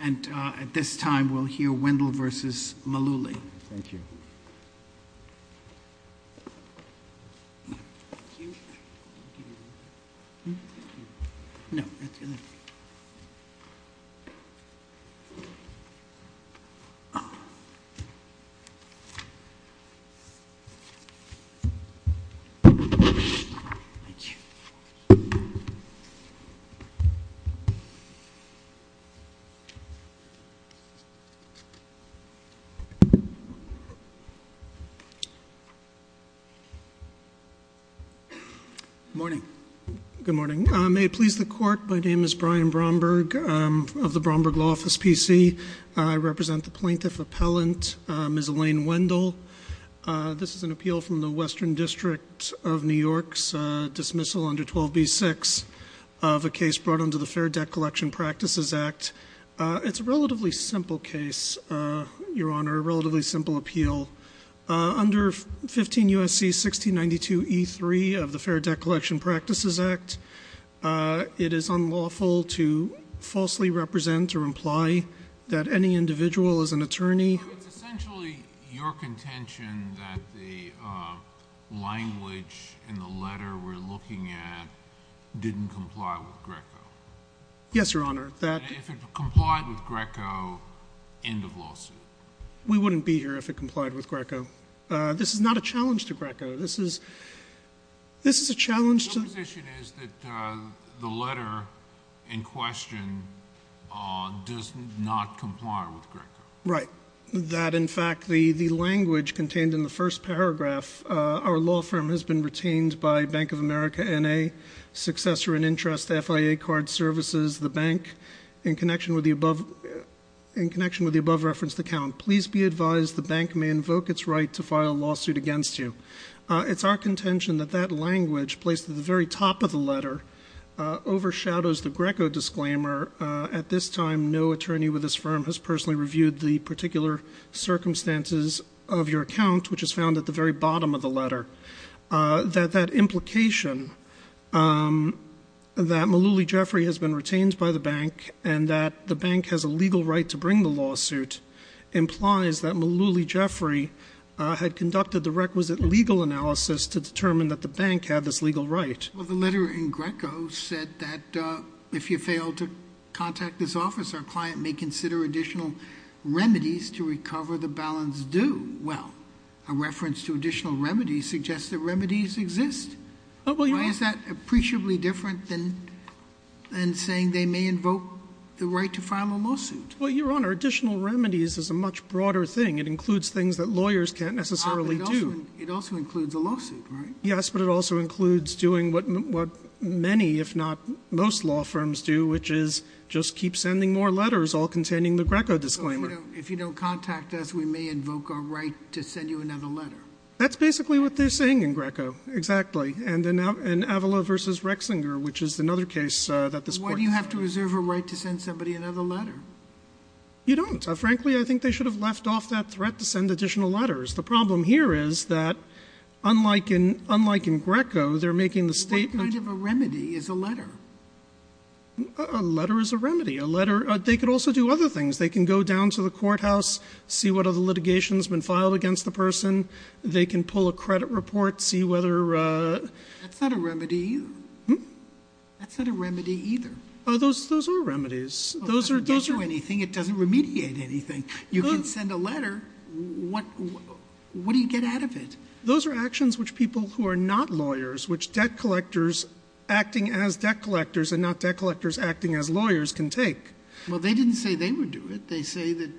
And at this time, we'll hear Wendel versus Mullooly. Thank you. No. Thank you. Thank you. Morning. Good morning. May it please the court, my name is Brian Bromberg of the Bromberg Law Office, PC. I represent the plaintiff appellant, Ms. Elaine Wendel. This is an appeal from the Western District of New York's dismissal under 12b-6 of a case brought under the Fair Debt Collection Practices Act. It's a relatively simple case, Your Honor, a relatively simple appeal. Under 15 U.S.C. 1692e3 of the Fair Debt Collection Practices Act, it is unlawful to falsely represent or imply that any individual is an attorney. So it's essentially your contention that the language in the letter we're looking at didn't comply with Greco. Yes, Your Honor. If it complied with Greco, end of lawsuit. We wouldn't be here if it complied with Greco. This is not a challenge to Greco. This is a challenge to Right. That, in fact, the language contained in the first paragraph, our law firm has been retained by Bank of America N.A., successor in interest FIA card services, the bank in connection with the above referenced account. Please be advised the bank may invoke its right to file a lawsuit against you. It's our contention that that language placed at the very top of the letter overshadows the Greco disclaimer. At this time, no attorney with this firm has personally reviewed the particular circumstances of your account, which is found at the very bottom of the letter, that that implication that Malouli Jeffrey has been retained by the bank and that the bank has a legal right to bring the lawsuit implies that Malouli Jeffrey had conducted the requisite legal analysis to determine that the bank had this legal right. Well, the letter in Greco said that if you fail to contact this office, our client may consider additional remedies to recover the balance due. Well, a reference to additional remedies suggests that remedies exist. Is that appreciably different than saying they may invoke the right to file a lawsuit? Well, Your Honor, additional remedies is a much broader thing. It includes things that lawyers can't necessarily do. It also includes a lawsuit, right? Yes, but it also includes doing what many, if not most, law firms do, which is just keep sending more letters, all containing the Greco disclaimer. If you don't contact us, we may invoke our right to send you another letter. That's basically what they're saying in Greco. Exactly. And in Avala v. Rexinger, which is another case that this court— Why do you have to reserve a right to send somebody another letter? You don't. Frankly, I think they should have left off that threat to send additional letters. The problem here is that, unlike in Greco, they're making the statement— What kind of a remedy is a letter? A letter is a remedy. A letter—they could also do other things. They can go down to the courthouse, see what other litigation has been filed against the person. They can pull a credit report, see whether— That's not a remedy either. Hmm? That's not a remedy either. Those are remedies. It doesn't get you anything. It doesn't remediate anything. You can send a letter. What do you get out of it? Those are actions which people who are not lawyers, which debt collectors acting as debt collectors and not debt collectors acting as lawyers, can take. Well, they didn't say they would do it. They say that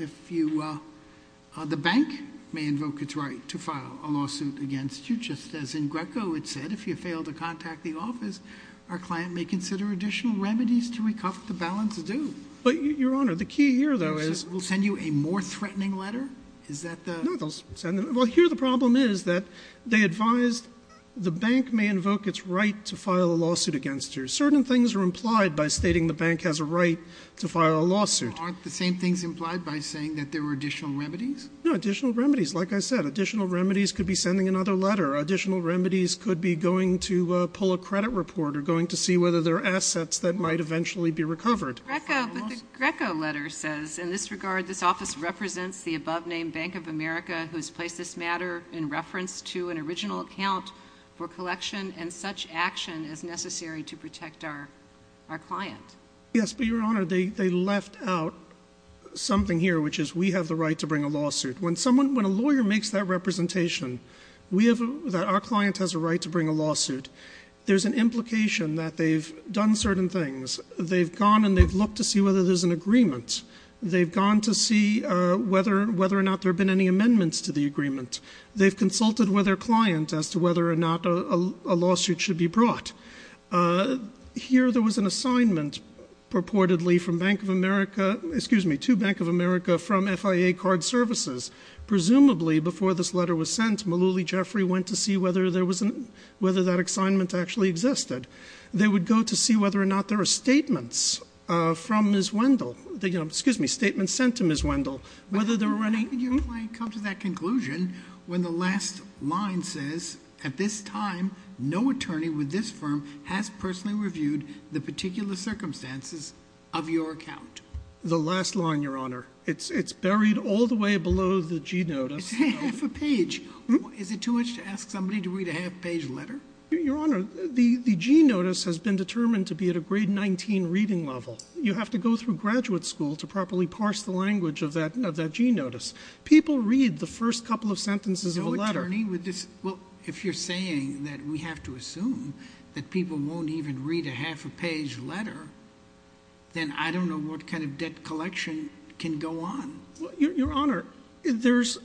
if you—the bank may invoke its right to file a lawsuit against you, just as in Greco it said. If you fail to contact the office, our client may consider additional remedies to recoup the balance due. But, Your Honor, the key here, though, is— We'll send you a more threatening letter? Is that the— No, they'll send—well, here the problem is that they advised the bank may invoke its right to file a lawsuit against you. Certain things are implied by stating the bank has a right to file a lawsuit. Aren't the same things implied by saying that there were additional remedies? No, additional remedies. Like I said, additional remedies could be sending another letter. Additional remedies could be going to pull a credit report or going to see whether there are assets that might eventually be recovered. Greco, but the Greco letter says, in this regard, this office represents the above-named Bank of America, who has placed this matter in reference to an original account for collection, and such action is necessary to protect our client. Yes, but, Your Honor, they left out something here, which is we have the right to bring a lawsuit. When someone—when a lawyer makes that representation, we have—that our client has a right to bring a lawsuit, there's an implication that they've done certain things. They've gone and they've looked to see whether there's an agreement. They've gone to see whether or not there have been any amendments to the agreement. They've consulted with their client as to whether or not a lawsuit should be brought. Here there was an assignment purportedly from Bank of America—excuse me, to Bank of America from FIA Card Services. Presumably, before this letter was sent, Malouli Jeffrey went to see whether there was an—whether that assignment actually existed. They would go to see whether or not there are statements from Ms. Wendell—excuse me, statements sent to Ms. Wendell, whether there were any— How could your client come to that conclusion when the last line says, at this time, no attorney with this firm has personally reviewed the particular circumstances of your account? The last line, Your Honor. It's buried all the way below the G notice. It's half a page. Is it too much to ask somebody to read a half-page letter? Your Honor, the G notice has been determined to be at a grade 19 reading level. You have to go through graduate school to properly parse the language of that G notice. People read the first couple of sentences of a letter. No attorney with this—well, if you're saying that we have to assume that people won't even read a half-page letter, then I don't know what kind of debt collection can go on. Your Honor, there's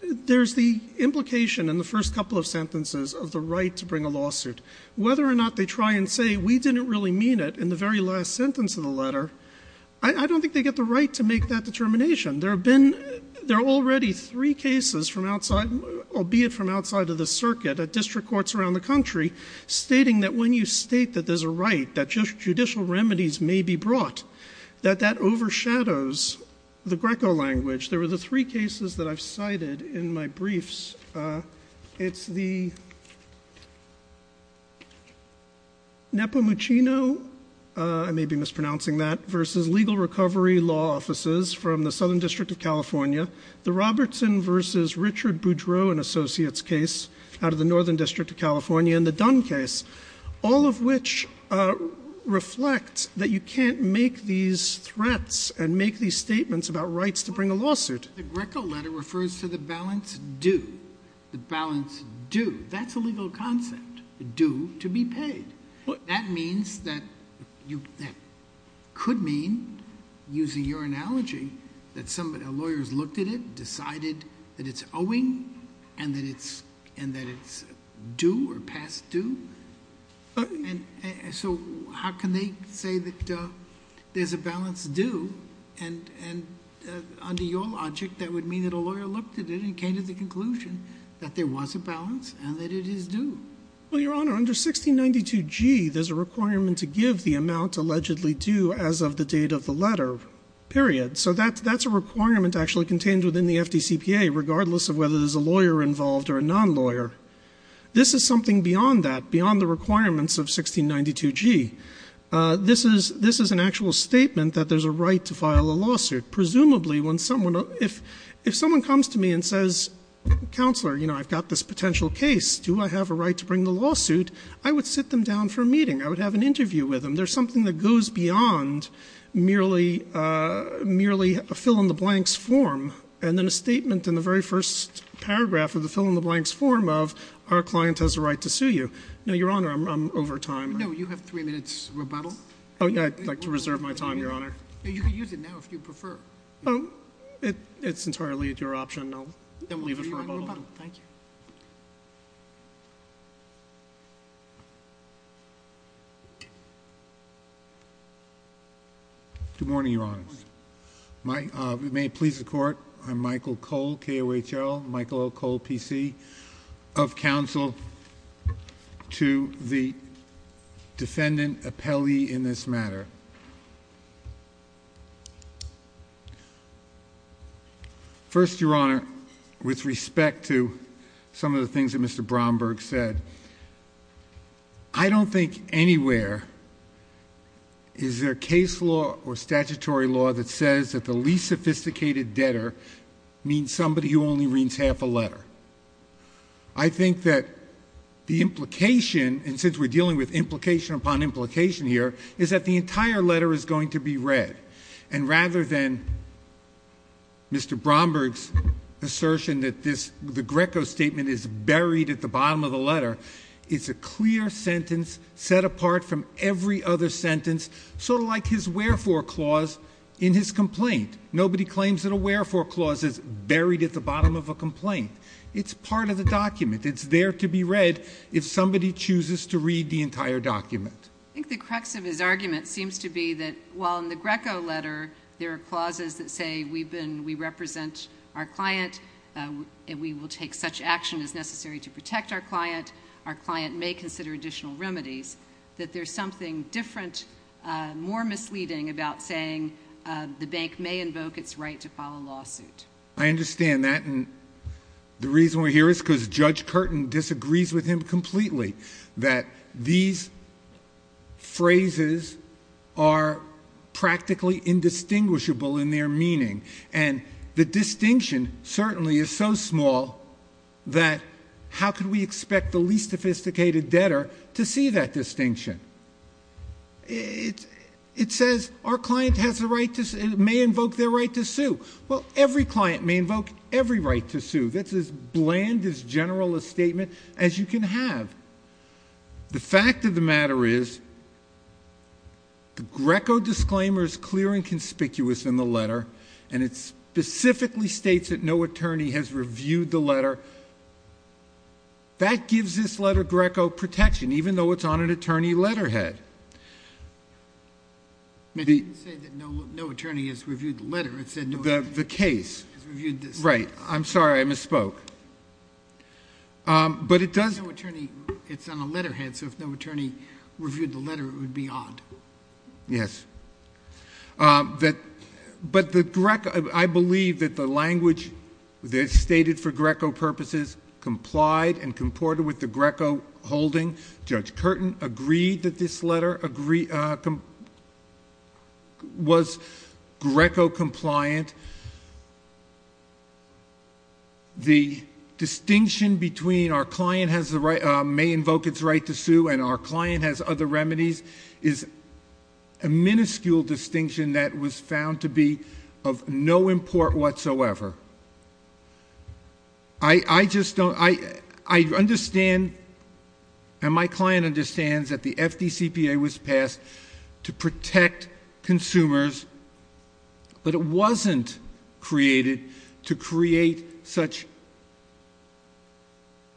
the implication in the first couple of sentences of the right to bring a lawsuit. Whether or not they try and say we didn't really mean it in the very last sentence of the letter, I don't think they get the right to make that determination. There have been—there are already three cases from outside, albeit from outside of the circuit, at district courts around the country, stating that when you state that there's a right, that judicial remedies may be brought, that that overshadows the Greco language. There were the three cases that I've cited in my briefs. It's the Nepomuchino—I may be mispronouncing that—versus legal recovery law offices from the Southern District of California, the Robertson versus Richard Boudreaux and Associates case out of the Northern District of California, and the Dunn case, all of which reflect that you can't make these threats and make these statements about rights to bring a lawsuit. The Greco letter refers to the balance due, the balance due. That's a legal concept, due to be paid. That means that you—that could mean, using your analogy, that a lawyer has looked at it, decided that it's owing, and that it's due or past due. So how can they say that there's a balance due? And under your logic, that would mean that a lawyer looked at it and came to the conclusion that there was a balance and that it is due. Well, Your Honor, under 1692G, there's a requirement to give the amount allegedly due as of the date of the letter, period. So that's a requirement actually contained within the FDCPA, regardless of whether there's a lawyer involved or a non-lawyer. This is something beyond that, beyond the requirements of 1692G. This is an actual statement that there's a right to file a lawsuit. Presumably, when someone—if someone comes to me and says, Counselor, you know, I've got this potential case, do I have a right to bring the lawsuit? I would sit them down for a meeting. I would have an interview with them. There's something that goes beyond merely a fill-in-the-blanks form, and then a statement in the very first paragraph of the fill-in-the-blanks form of our client has a right to sue you. Now, Your Honor, I'm over time. No, you have three minutes rebuttal. Oh, yeah, I'd like to reserve my time, Your Honor. You can use it now if you prefer. Oh, it's entirely at your option. I'll leave it for rebuttal. Thank you. Good morning, Your Honors. We may please the Court. I'm Michael Cole, K-O-H-L, Michael O. Cole, P.C., of counsel to the defendant appellee in this matter. First, Your Honor, with respect to some of the things that Mr. Bromberg said, I don't think anywhere is there a case law or statutory law that says that the least sophisticated debtor means somebody who only reads half a letter. I think that the implication, and since we're dealing with implication upon implication here, is that the entire letter is going to be read. And rather than Mr. Bromberg's assertion that the Greco statement is buried at the bottom of the letter, it's a clear sentence set apart from every other sentence, sort of like his wherefore clause in his complaint. Nobody claims that a wherefore clause is buried at the bottom of a complaint. It's part of the document. It's there to be read if somebody chooses to read the entire document. I think the crux of his argument seems to be that while in the Greco letter there are clauses that say we represent our client and we will take such action as necessary to protect our client, our client may consider additional remedies, that there's something different, more misleading about saying the bank may invoke its right to file a lawsuit. I understand that. And the reason we're here is because Judge Curtin disagrees with him completely, that these phrases are practically indistinguishable in their meaning. And the distinction certainly is so small that how could we expect the least sophisticated debtor to see that distinction? It says our client may invoke their right to sue. Well, every client may invoke every right to sue. That's as bland, as general a statement as you can have. The fact of the matter is the Greco disclaimer is clear and conspicuous in the letter, and it specifically states that no attorney has reviewed the letter. That gives this letter Greco protection, even though it's on an attorney letterhead. But you didn't say that no attorney has reviewed the letter. The case. Right. I'm sorry. I misspoke. It's on a letterhead, so if no attorney reviewed the letter, it would be odd. Yes. But I believe that the language that's stated for Greco purposes complied and comported with the Greco holding. Judge Curtin agreed that this letter was Greco compliant. The distinction between our client may invoke its right to sue and our client has other remedies is a minuscule distinction that was found to be of no import whatsoever. I understand and my client understands that the FDCPA was passed to protect consumers, but it wasn't created to create such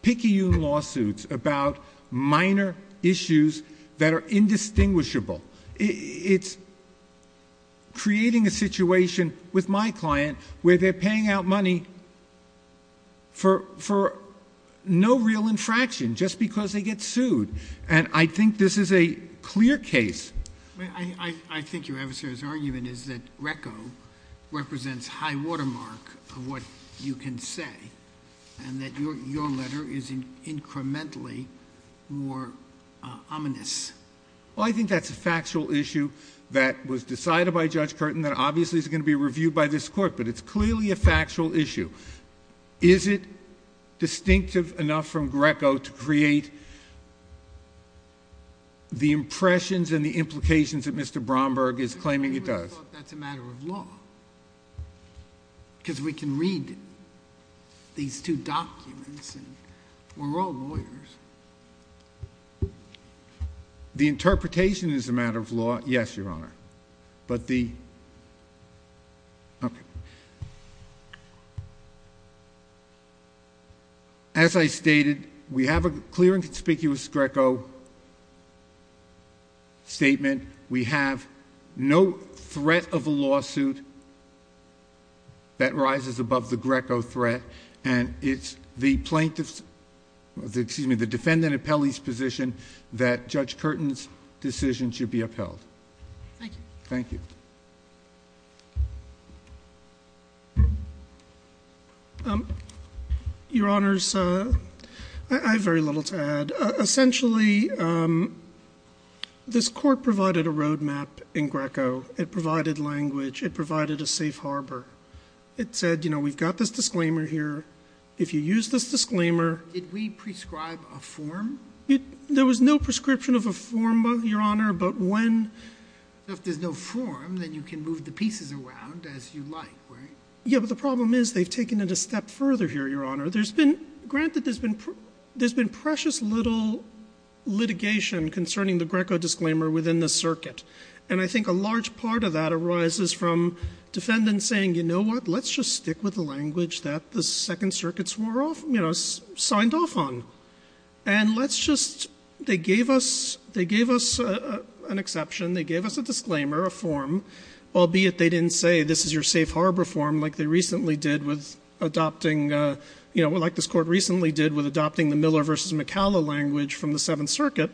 picky lawsuits about minor issues that are indistinguishable. It's creating a situation with my client where they're paying out money for no real infraction just because they get sued, and I think this is a clear case. I think your adversary's argument is that Greco represents high watermark of what you can say and that your letter is incrementally more ominous. Well, I think that's a factual issue that was decided by Judge Curtin that obviously is going to be reviewed by this Court, but it's clearly a factual issue. Is it distinctive enough from Greco to create the impressions and the implications that Mr. Bromberg is claiming it does? I thought that's a matter of law because we can read these two documents and we're all lawyers. The interpretation is a matter of law, yes, Your Honor, but the... Okay. It's a threat of a lawsuit that rises above the Greco threat, and it's the defendant appellee's position that Judge Curtin's decision should be upheld. Thank you. Thank you. Essentially, this Court provided a roadmap in Greco. It provided language. It provided a safe harbor. It said, you know, we've got this disclaimer here. If you use this disclaimer... Did we prescribe a form? There was no prescription of a form, Your Honor, but when... If there's no form, then you can move the pieces around as you like, right? Granted, there's been precious little litigation concerning the Greco disclaimer within the circuit, and I think a large part of that arises from defendants saying, you know what, let's just stick with the language that the Second Circuit signed off on. And let's just... They gave us an exception. They gave us a disclaimer, a form, albeit they didn't say this is your safe harbor form like they recently did with adopting, you know, like this Court recently did with adopting the Miller v. McCalla language from the Seventh Circuit.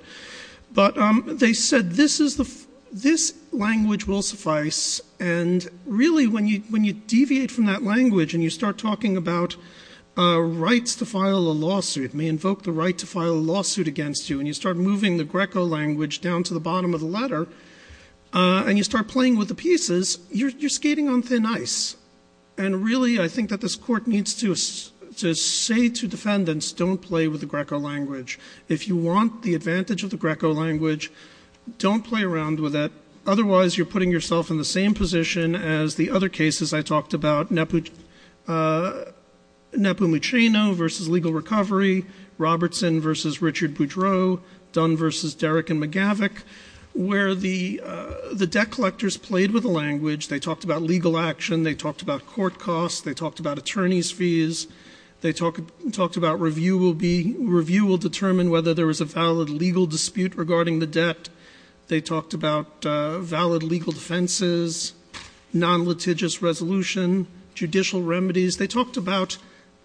But they said this language will suffice, and really when you deviate from that language and you start talking about rights to file a lawsuit, may invoke the right to file a lawsuit against you, and you start moving the Greco language down to the bottom of the letter, and you start playing with the pieces, you're skating on thin ice. And really I think that this Court needs to say to defendants, don't play with the Greco language. If you want the advantage of the Greco language, don't play around with it. Otherwise, you're putting yourself in the same position as the other cases I talked about, Nepu... Nepu Mucheno v. Legal Recovery, Robertson v. Richard Boudreaux, Dunn v. Derrick and McGavick, where the debt collectors played with the language. They talked about legal action. They talked about court costs. They talked about attorneys' fees. They talked about review will determine whether there was a valid legal dispute regarding the debt. They talked about valid legal defenses, non-litigious resolution, judicial remedies. They talked about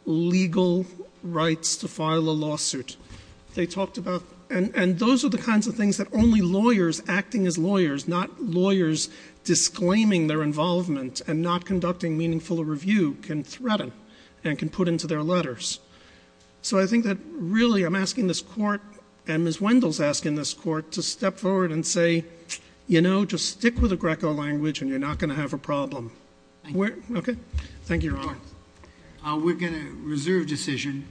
legal rights to file a lawsuit. And those are the kinds of things that only lawyers acting as lawyers, not lawyers disclaiming their involvement and not conducting meaningful review, can threaten and can put into their letters. So I think that really I'm asking this Court, and Ms. Wendell's asking this Court, to step forward and say, you know, just stick with the Greco language and you're not going to have a problem. Thank you. Thank you, Your Honor. We're going to reserve decision.